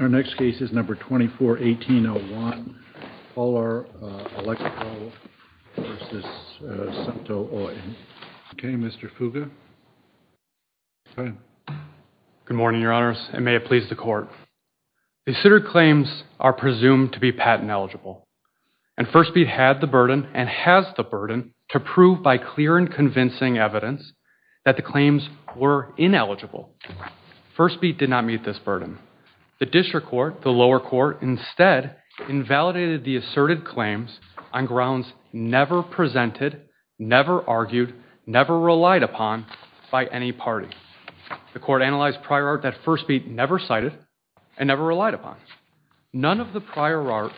Our next case is number 24-1801, Polar Electro v. Suunto Oy. Okay, Mr. Fuga. Go ahead. Good morning, Your Honors, and may it please the Court. Considered claims are presumed to be patent eligible, and First Beat had the burden, and has the burden, to prove by clear and convincing evidence that the claims were ineligible. First Beat did not meet this burden. The district court, the lower court, instead invalidated the asserted claims on grounds never presented, never argued, never relied upon by any party. The court analyzed prior art that First Beat never cited and never relied upon. None of the prior art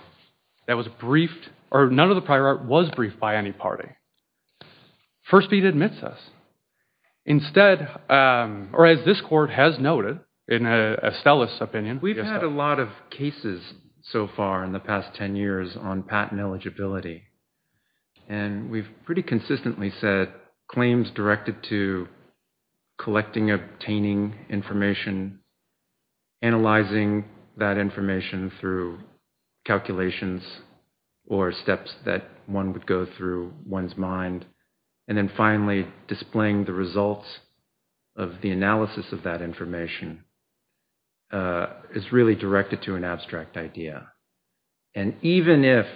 that was briefed, or none of the prior art was briefed by any party. First Beat admits us. Instead, or as this court has noted, in Estella's opinion. We've had a lot of cases so far in the past 10 years on patent eligibility, and we've pretty consistently said claims directed to collecting, obtaining information, analyzing that information through calculations, or steps that one would go through one's mind, and then finally displaying the results of the analysis of that information is really directed to an abstract idea. And even if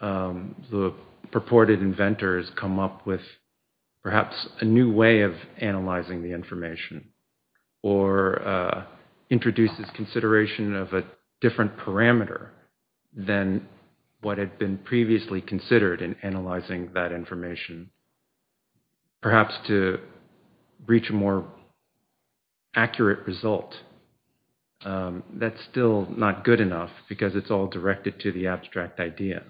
the purported inventors come up with perhaps a new way of analyzing the information, or introduces consideration of a different parameter than what had been previously considered in analyzing that information, perhaps to reach a more accurate result, that's still not good enough because it's all directed to the abstract idea.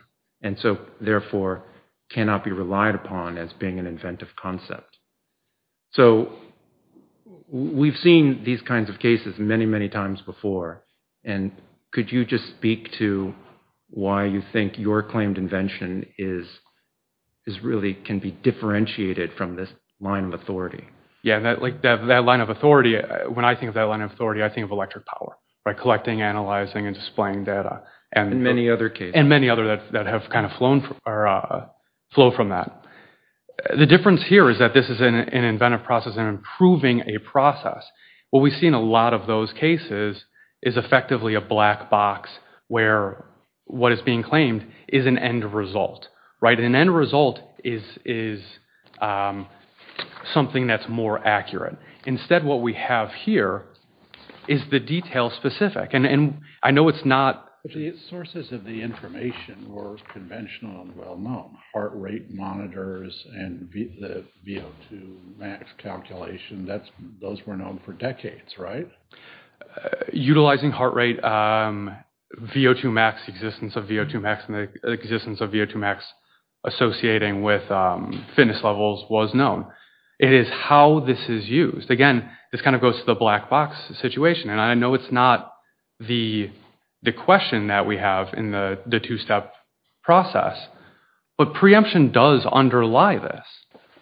And so, therefore, cannot be relied upon as being an inventive concept. So, we've seen these kinds of cases many, many times before, and could you just speak to why you think your claimed invention really can be differentiated from this line of authority? Yeah, that line of authority, when I think of that line of authority, I think of electric power, by collecting, analyzing, and displaying data. And many other cases. And many other that have kind of flowed from that. The difference here is that this is an inventive process and improving a process. What we see in a lot of those cases is effectively a black box where what is being claimed is an end result. An end result is something that's more accurate. Instead, what we have here is the detail specific. And I know it's not... The sources of the information were conventional and well-known. Heart rate monitors and the VO2 max calculation, those were known for decades, right? Utilizing heart rate, VO2 max, existence of VO2 max, and the existence of VO2 max associating with fitness levels was known. It is how this is used. Again, this kind of goes to the black box situation. And I know it's not the question that we have in the two-step process, but preemption does underlie this,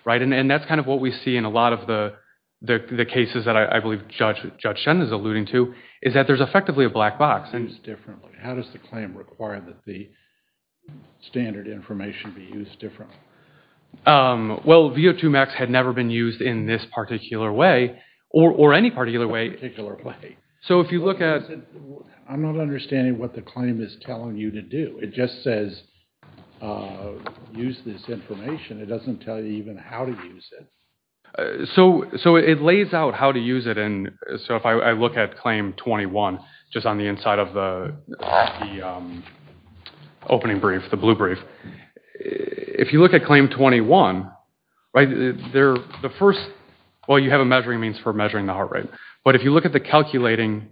right? And that's kind of what we see in a lot of the cases that I believe Judge Shen is alluding to, is that there's effectively a black box. How does the claim require that the standard information be used differently? Well, VO2 max had never been used in this particular way or any particular way. So if you look at... I'm not understanding what the claim is telling you to do. It just says use this information. It doesn't tell you even how to use it. So it lays out how to use it. And so if I look at Claim 21, just on the inside of the opening brief, the blue brief, if you look at Claim 21, right, the first... Well, you have a measuring means for measuring the heart rate. But if you look at the calculating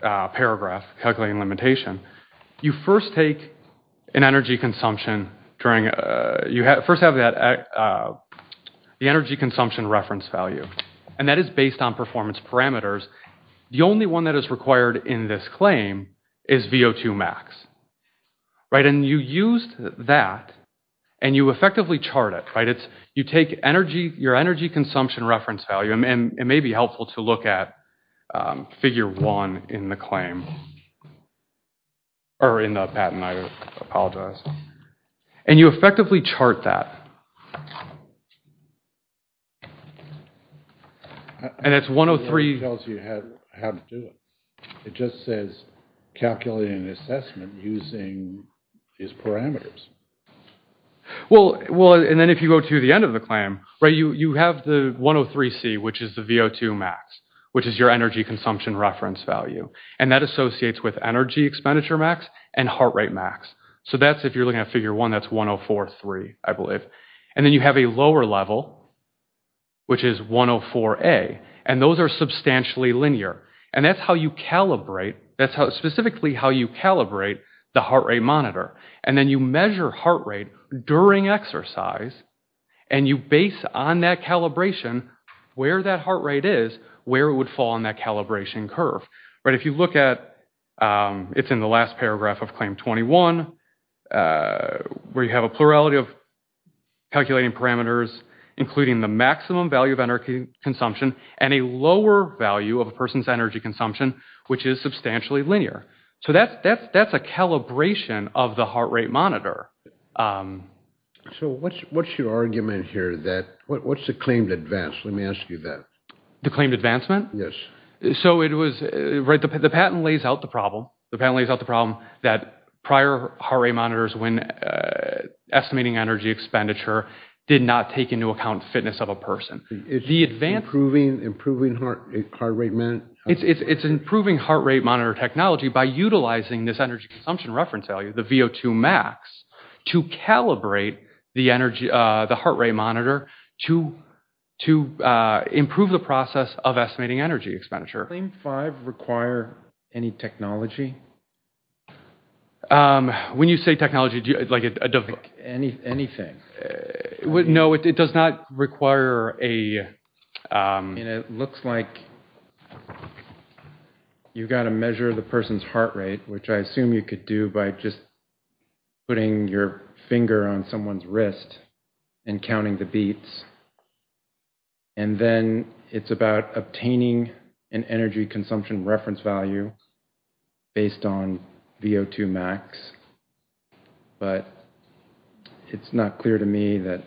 paragraph, calculating limitation, you first take an energy consumption during... You first have the energy consumption reference value. And that is based on performance parameters. The only one that is required in this claim is VO2 max, right? And you used that and you effectively chart it, right? You take your energy consumption reference value. And it may be helpful to look at Figure 1 in the claim, or in the patent. I apologize. And you effectively chart that. And it's 103... It doesn't tell you how to do it. It just says calculate an assessment using these parameters. Well, and then if you go to the end of the claim, right, you have the 103C, which is the VO2 max, which is your energy consumption reference value. And that associates with energy expenditure max and heart rate max. So that's, if you're looking at Figure 1, that's 104C, I believe. And then you have a lower level, which is 104A. And those are substantially linear. And that's how you calibrate. That's specifically how you calibrate the heart rate monitor. And then you measure heart rate during exercise. And you base on that calibration where that heart rate is, where it would fall on that calibration curve. If you look at, it's in the last paragraph of Claim 21, where you have a plurality of calculating parameters, including the maximum value of energy consumption and a lower value of a person's energy consumption, which is substantially linear. So that's a calibration of the heart rate monitor. So what's your argument here that, what's the claim to advance? Let me ask you that. The claim to advancement? Yes. So it was, right, the patent lays out the problem. The patent lays out the problem that prior heart rate monitors when estimating energy expenditure did not take into account fitness of a person. It's improving heart rate monitor? It's improving heart rate monitor technology by utilizing this energy consumption reference value, the VO2 max, to calibrate the heart rate monitor to improve the process of estimating energy expenditure. Does Claim 5 require any technology? When you say technology, like a device? Anything. No, it does not require a... And it looks like you've got to measure the person's heart rate, which I assume you could do by just putting your finger on someone's wrist and counting the beats. And then it's about obtaining an energy consumption reference value based on VO2 max, but it's not clear to me that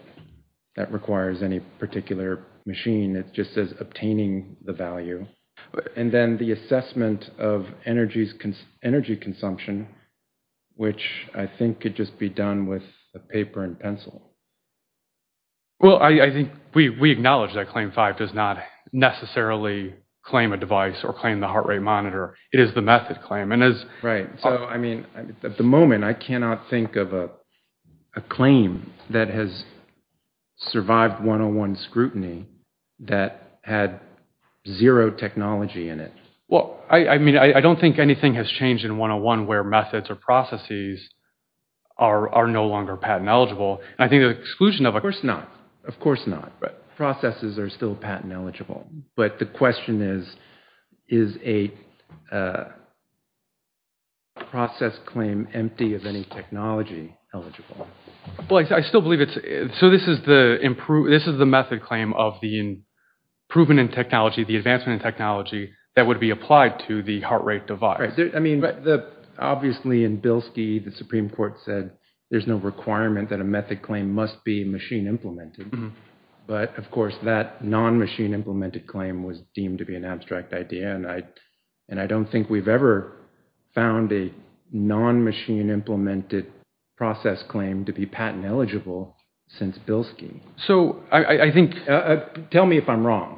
that requires any particular machine. It just says obtaining the value. And then the assessment of energy consumption, which I think could just be done with a paper and pencil. Well, I think we acknowledge that Claim 5 does not necessarily claim a device or claim the heart rate monitor. It is the method claim. Right. So, I mean, at the moment I cannot think of a claim that has survived 101 scrutiny that had zero technology in it. Well, I mean, I don't think anything has changed in 101 where methods or processes are no longer patent eligible. I think the exclusion of... Of course not. Of course not. Processes are still patent eligible. But the question is, is a process claim empty of any technology eligible? Well, I still believe it's... So this is the method claim of the improvement in technology, the advancement in technology that would be applied to the heart rate device. I mean, obviously in Bilski, the Supreme Court said there's no requirement that a method claim must be machine implemented. But, of course, that non-machine implemented claim was deemed to be an abstract idea. And I don't think we've ever found a non-machine implemented process claim to be patent eligible since Bilski. So, I think... Tell me if I'm wrong.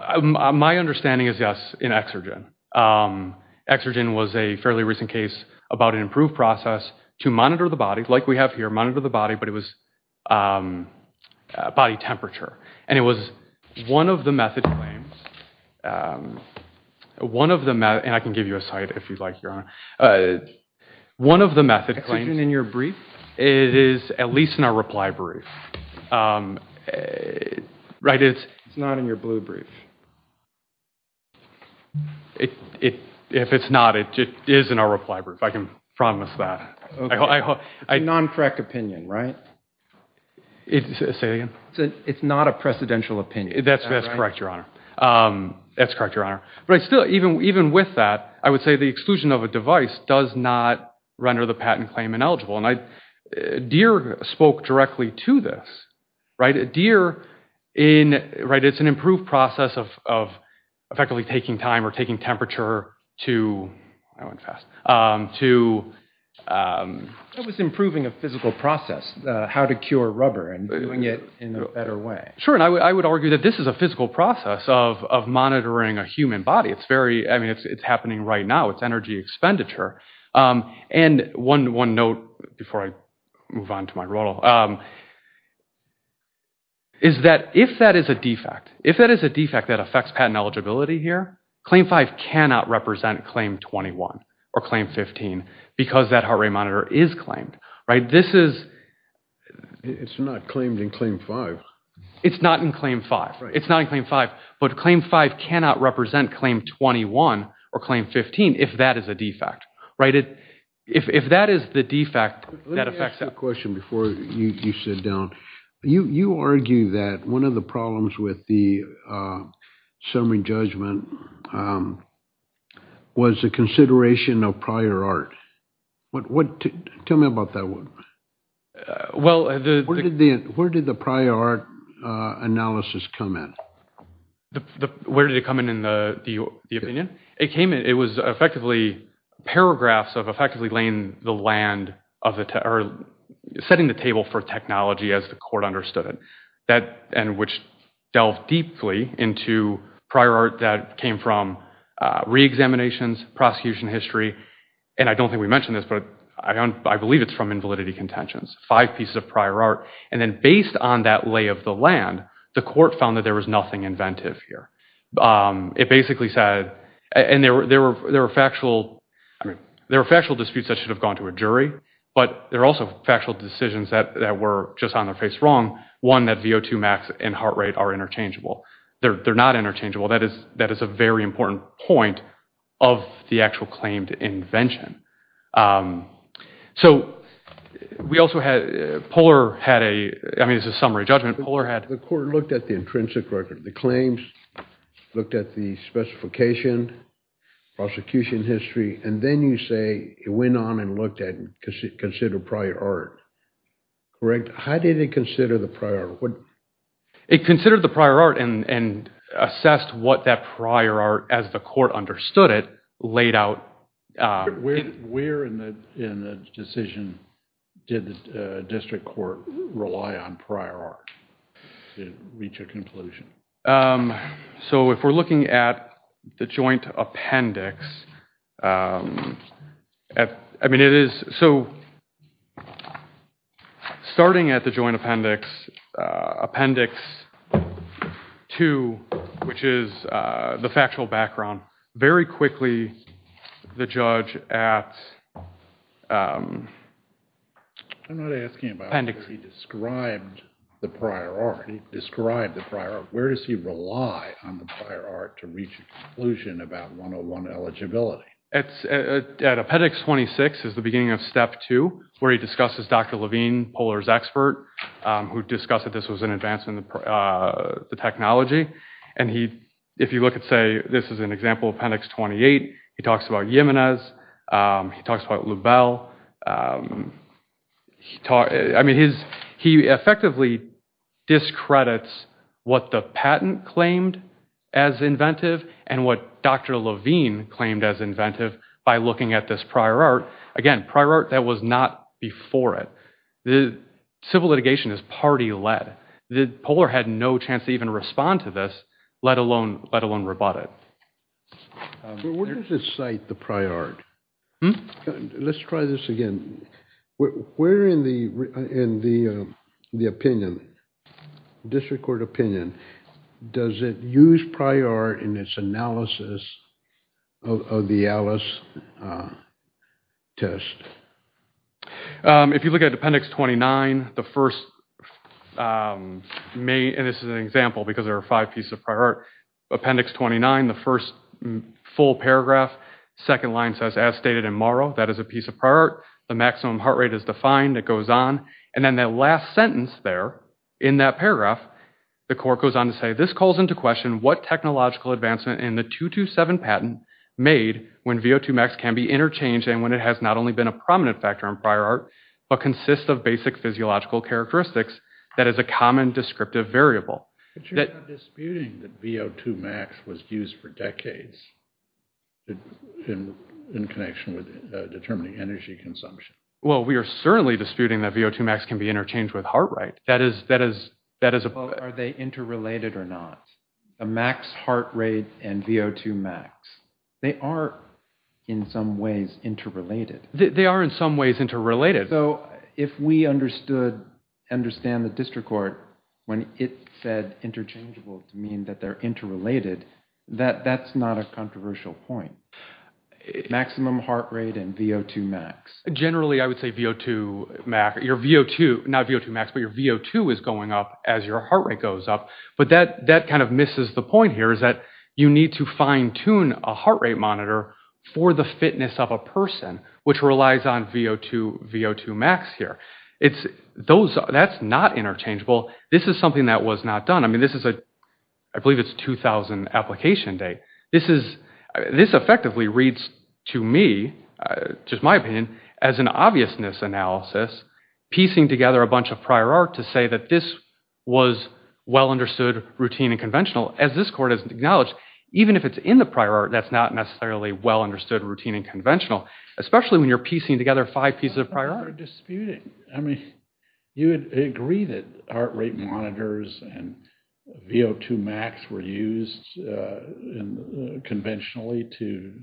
My understanding is yes, in Exergen. Exergen was a fairly recent case about an improved process to monitor the body, like we have here, monitor the body, but it was body temperature. And it was one of the method claims, one of the... And I can give you a site if you'd like, Your Honor. One of the method claims... Exergen in your brief? It is at least in our reply brief. Right, it's... It's not in your blue brief. If it's not, it is in our reply brief. I can promise that. Non-correct opinion, right? Say that again? It's not a precedential opinion. That's correct, Your Honor. That's correct, Your Honor. But still, even with that, I would say the exclusion of a device does not render the patent claim ineligible. And Deere spoke directly to this, right? Deere in... Right, it's an improved process of effectively taking time or taking temperature to... I went fast. To... It was improving a physical process, how to cure rubber and doing it in a better way. Sure, and I would argue that this is a physical process of monitoring a human body. It's very... I mean, it's happening right now. It's energy expenditure. And one note before I move on to my role is that if that is a defect, if that is a defect that affects patent eligibility here, Claim 5 cannot represent Claim 21 or Claim 15 because that heart rate monitor is claimed, right? This is... It's not claimed in Claim 5. It's not in Claim 5. It's not in Claim 5, but Claim 5 cannot represent Claim 21 or Claim 15 if that is a defect, right? If that is the defect that affects... Let me ask you a question before you sit down. You argue that one of the problems with the summary judgment was the consideration of prior art. What... Tell me about that one. Well, the... Where did the prior art analysis come in? Where did it come in in the opinion? It came in... It was effectively paragraphs of effectively laying the land of the... Or setting the table for technology as the court understood it. That... And which delved deeply into prior art that came from re-examinations, prosecution history. And I don't think we mentioned this, but I believe it's from invalidity contentions. Five pieces of prior art. And then based on that lay of the land, the court found that there was nothing inventive here. It basically said... And there were factual... There were factual disputes that should have gone to a jury, but there were also factual decisions that were just on their face wrong. One, that VO2max and heart rate are interchangeable. They're not interchangeable. That is a very important point of the actual claimed invention. So we also had... Poehler had a... I mean, it's a summary judgment. Poehler had... The court looked at the intrinsic record. The claims looked at the specification, prosecution history, and then you say it went on and looked at and considered prior art. Correct? How did it consider the prior art? It considered the prior art and assessed what that prior art, as the court understood it, laid out. Where in the decision did the district court rely on prior art to reach a conclusion? So if we're looking at the joint appendix, I mean, it is... So starting at the joint appendix, appendix two, which is the factual background, very quickly, the judge at... I'm not asking about where he described the prior art. He described the prior art. Where does he rely on the prior art to reach a conclusion about 101 eligibility? At appendix 26 is the beginning of step two, where he discusses Dr. Levine, Poehler's expert, who discussed that this was an advance in the technology, and he, if you look at, say, this is an example of appendix 28. He talks about Jimenez. He talks about Lubell. I mean, he effectively discredits what the patent claimed as inventive and what Dr. Levine claimed as inventive by looking at this prior art. Again, prior art, that was not before it. The civil litigation is party-led. Poehler had no chance to even respond to this, let alone rebut it. But where does it cite the prior art? Let's try this again. Where in the opinion, district court opinion, does it use prior art in its analysis of the ALICE test? If you look at appendix 29, the first, and this is an example because there are five pieces of prior art. Appendix 29, the first full paragraph, second line says, as stated in Morrow, that is a piece of prior art. The maximum heart rate is defined. It goes on, and then that last sentence there in that paragraph, the court goes on to say, this calls into question what technological advancement in the 227 patent made when VO2max can be interchanged and when it has not only been a prominent factor in prior art, but consists of basic physiological characteristics that is a common descriptive variable. But you're not disputing that VO2max was used for decades in connection with determining energy consumption. Well, we are certainly disputing that VO2max can be interchanged with heart rate. That is, that is, that is. Well, are they interrelated or not? The max heart rate and VO2max, they are in some ways interrelated. They are in some ways interrelated. So if we understood, understand the district court when it said interchangeable to mean that they're interrelated, that that's not a controversial point. Maximum heart rate and VO2max. Generally, I would say VO2max, your VO2, not VO2max, but your VO2 is going up as your heart rate goes up. But that, that kind of misses the point here is that you need to fine tune a heart rate monitor for the fitness of a person, which relies on VO2, VO2max here. It's those, that's not interchangeable. This is something that was not done. I mean, this is a, I believe it's 2000 application date. This is, this effectively reads to me, just my opinion, as an obviousness analysis, piecing together a bunch of prior art to say that this was well understood, routine and conventional. As this court has acknowledged, even if it's in the prior art, that's not necessarily well understood, routine and conventional, especially when you're piecing together five pieces of prior art. We're disputing. I mean, you would agree that heart rate monitors and VO2max were used conventionally to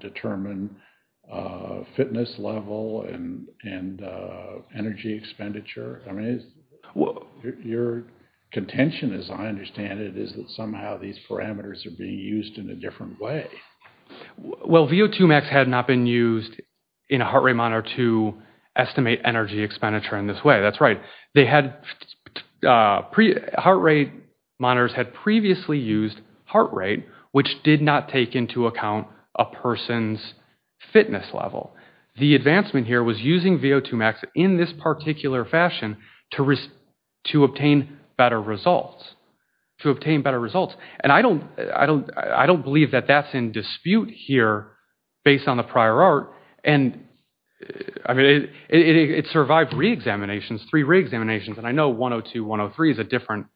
determine fitness level and energy expenditure. I mean, your contention, as I understand it, is that somehow these parameters are being used in a different way. Well, VO2max had not been used in a heart rate monitor to estimate energy expenditure in this way. That's right. They had, heart rate monitors had previously used heart rate, which did not take into account a person's fitness level. The advancement here was using VO2max in this particular fashion to obtain better results, to obtain better results. And I don't believe that that's in dispute here based on the prior art. And, I mean, it survived re-examinations, three re-examinations. And I know 102, 103 is a different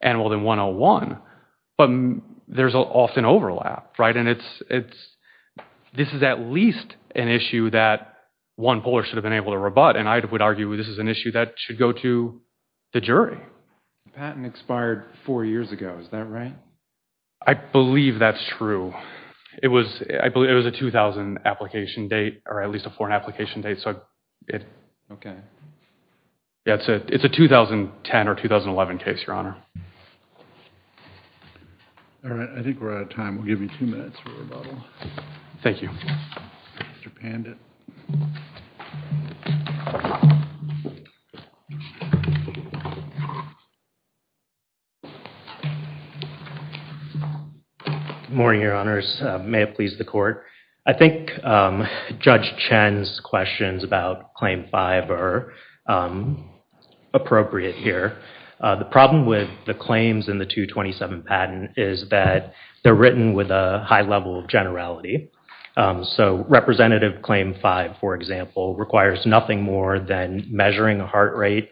animal than 101, but there's often overlap, right? And it's, this is at least an issue that one puller should have been able to rebut. And I would argue this is an issue that should go to the jury. The patent expired four years ago, is that right? I believe that's true. It was, I believe it was a 2000 application date or at least a foreign application date. So it, okay. That's it. It's a 2010 or 2011 case, your honor. All right. I think we're out of time. We'll give you two minutes for rebuttal. Thank you. Mr. Pandit. Good morning, your honors. May it please the court. I think Judge Chen's questions about Claim 5 are appropriate here. The problem with the claims in the 227 patent is that they're written with a high level of generality. So representative Claim 5, for example, requires nothing more than measuring a heart rate,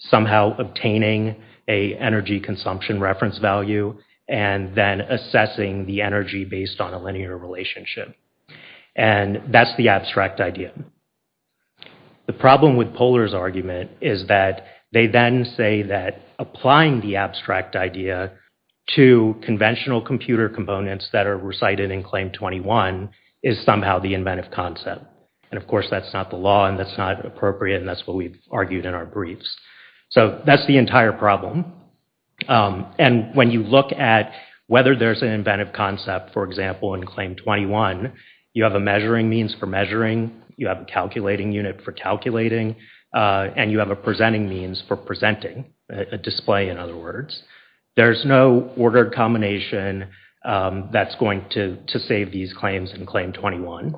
somehow obtaining a energy consumption reference value, and then assessing the energy based on a linear relationship. And that's the abstract idea. The problem with Puller's argument is that they then say that applying the abstract idea to conventional computer components that are recited in Claim 21 is somehow the inventive concept. And of course, that's not the law and that's not appropriate and that's what we've argued in our briefs. So that's the entire problem. And when you look at whether there's an inventive concept, for example, in Claim 21, you have a measuring means for measuring, you have a calculating unit for calculating, and you have a presenting means for presenting, a display, in other words. There's no ordered combination that's going to save these claims in Claim 21.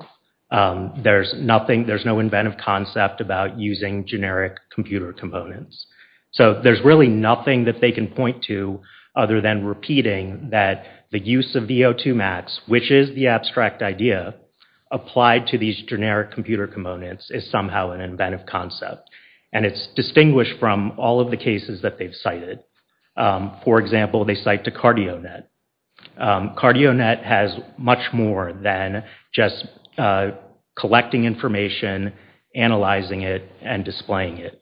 There's no inventive concept about using generic computer components. So there's really nothing that they can point to other than repeating that the use of VO2max, which is the abstract idea, applied to these generic computer components is somehow an inventive concept. And it's distinguished from all of the cases that they've cited. For example, they cite to CardioNet. CardioNet has much more than just collecting information, analyzing it, and displaying it.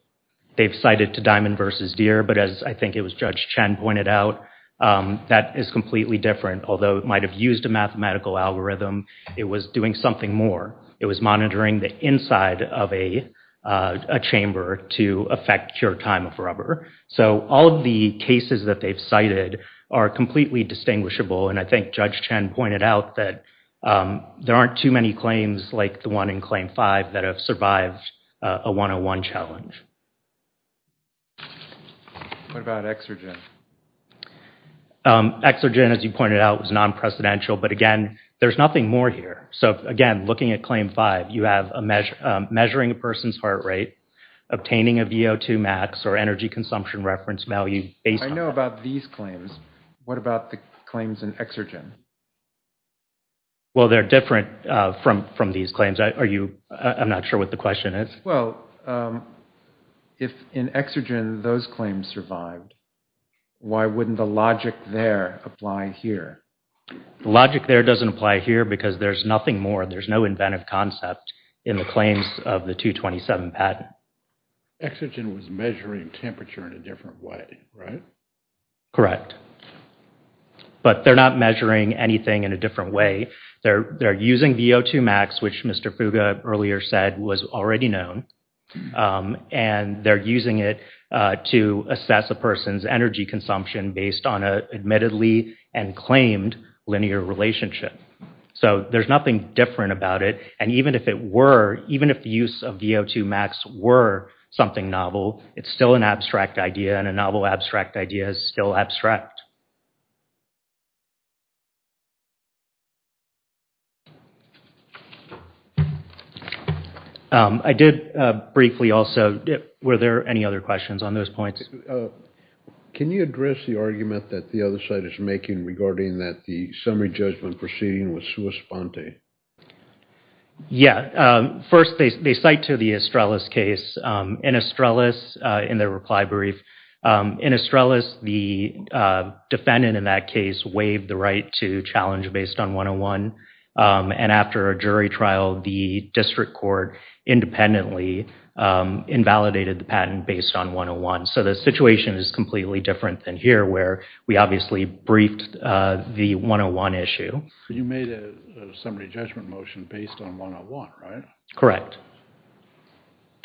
They've cited to Diamond versus Deere, but as I think it was Judge Chen pointed out, that is completely different. Although it might have used a mathematical algorithm, it was doing something more. It was monitoring the inside of a chamber to affect cure time of rubber. So all of the cases that they've cited are completely distinguishable, and I think Judge Chen pointed out that there aren't too many claims like the one in Claim 5 that have survived a 101 challenge. What about Exergen? Exergen, as you pointed out, was non-precedential, but again, there's nothing more here. So again, looking at Claim 5, you have measuring a person's heart rate, obtaining a VO2 max, or energy consumption reference value based on that. I know about these claims. What about the claims in Exergen? Well, they're different from these claims. I'm not sure what the question is. Well, if in Exergen those claims survived, why wouldn't the logic there apply here? The logic there doesn't apply here because there's nothing more. There's no inventive concept in the claims of the 227 patent. Exergen was measuring temperature in a different way, right? Correct. But they're not measuring anything in a different way. They're using VO2 max, which Mr. Fuga earlier said was already known, and they're using it to assess a person's energy consumption based on an admittedly and claimed linear relationship. So there's nothing different about it, and even if it were, even if the use of VO2 max were something novel, it's still an abstract idea, and a novel abstract idea is still abstract. I did briefly also, were there any other questions on those points? Can you address the argument that the other side is making regarding that the summary judgment proceeding was sua sponte? Yeah. First, they cite to the Estrellas case. In Estrellas, in their reply brief, in Estrellas, the defendant in that case waived the right to challenge based on 101, and after a jury trial, the district court independently invalidated the patent based on 101. So the situation is completely different than here where we obviously briefed the 101 issue. You made a summary judgment motion based on 101, right? Correct.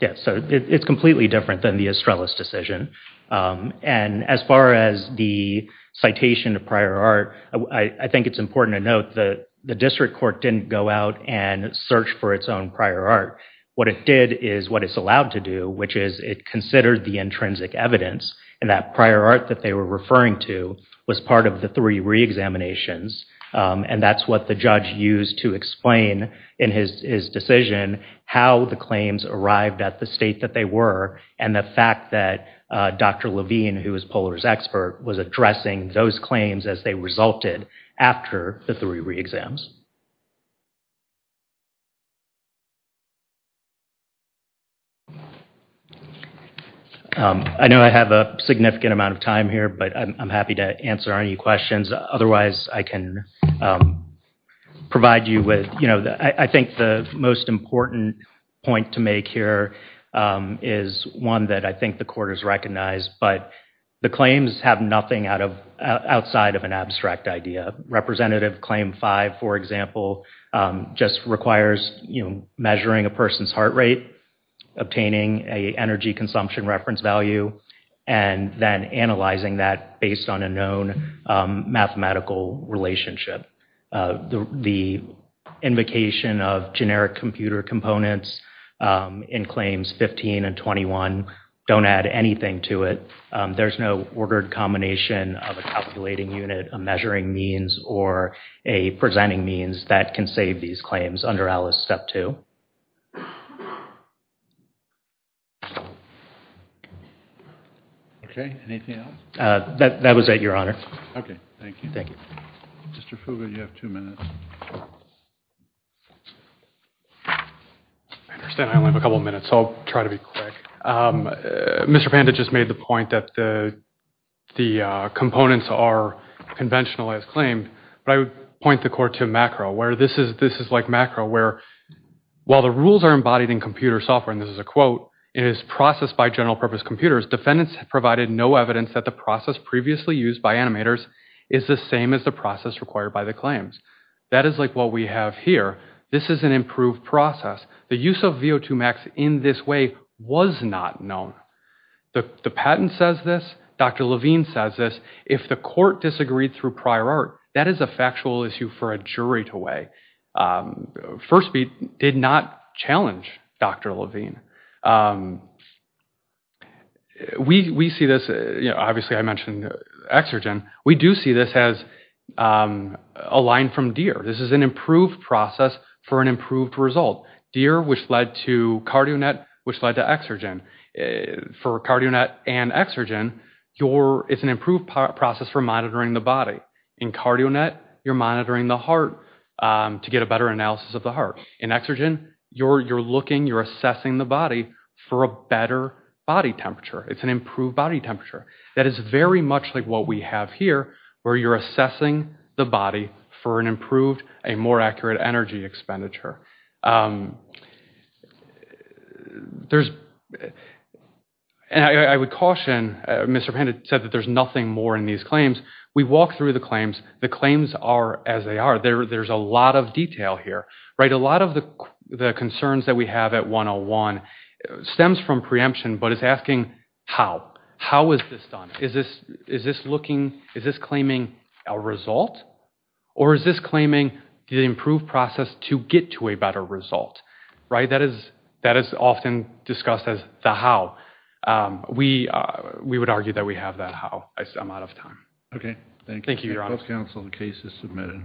Yeah, so it's completely different than the Estrellas decision, and as far as the citation of prior art, I think it's important to note that the district court didn't go out and search for its own prior art. What it did is what it's allowed to do, which is it considered the intrinsic evidence and that prior art that they were referring to was part of the three re-examinations, and that's what the judge used to explain in his decision how the claims arrived at the state that they were and the fact that Dr. Levine, who was Poller's expert, was addressing those claims as they resulted after the three re-exams. I know I have a significant amount of time here, but I'm happy to answer any questions. Otherwise, I can provide you with, you know, I think the most important point to make here is one that I think the court has recognized, but the claims have nothing outside of an abstract idea. Representative Claim 548, for example, just requires, you know, measuring a person's heart rate, obtaining a energy consumption reference value, and then analyzing that based on a known mathematical relationship. The invocation of generic computer components in Claims 15 and 21 don't add anything to it. There's no ordered combination of a calculating unit, a measuring means, or a presenting means that can save these claims under ALICE Step 2. Okay, anything else? That was it, Your Honor. Okay, thank you. Thank you. Mr. Fuga, you have two minutes. I understand I only have a couple of minutes, so I'll try to be quick. Mr. Panda just made the point that the components are conventional as claimed, but I would point the court to macro, where this is like macro, where while the rules are embodied in computer software, and this is a quote, it is processed by general-purpose computers, defendants have provided no evidence that the process previously used by animators is the same as the process required by the claims. That is like what we have here. This is an improved process. The use of VO2max in this way was not known. The patent says this. Dr. Levine says this. If the court disagreed through prior art, that is a factual issue for a jury to weigh. First, we did not challenge Dr. Levine. We see this, obviously I mentioned exergen. We do see this as a line from DEER. This is an improved process for an improved result. DEER, which led to CardioNet, which led to exergen. For CardioNet and exergen, it's an improved process for monitoring the body. In CardioNet, you're monitoring the heart to get a better analysis of the heart. In exergen, you're looking, you're assessing the body for a better body temperature. It's an improved body temperature. That is very much like what we have here, where you're assessing the body for an improved, a more accurate energy expenditure. I would caution, Mr. Panetta said that there's nothing more in these claims. We walked through the claims. The claims are as they are. There's a lot of detail here. A lot of the concerns that we have at 101 stems from preemption, but it's asking how. How is this done? Is this looking, is this claiming a result? Or is this claiming the improved process to get to a better result? Right, that is often discussed as the how. We would argue that we have that how. I'm out of time. Okay, thank you. Thank you, Your Honor. The case is submitted.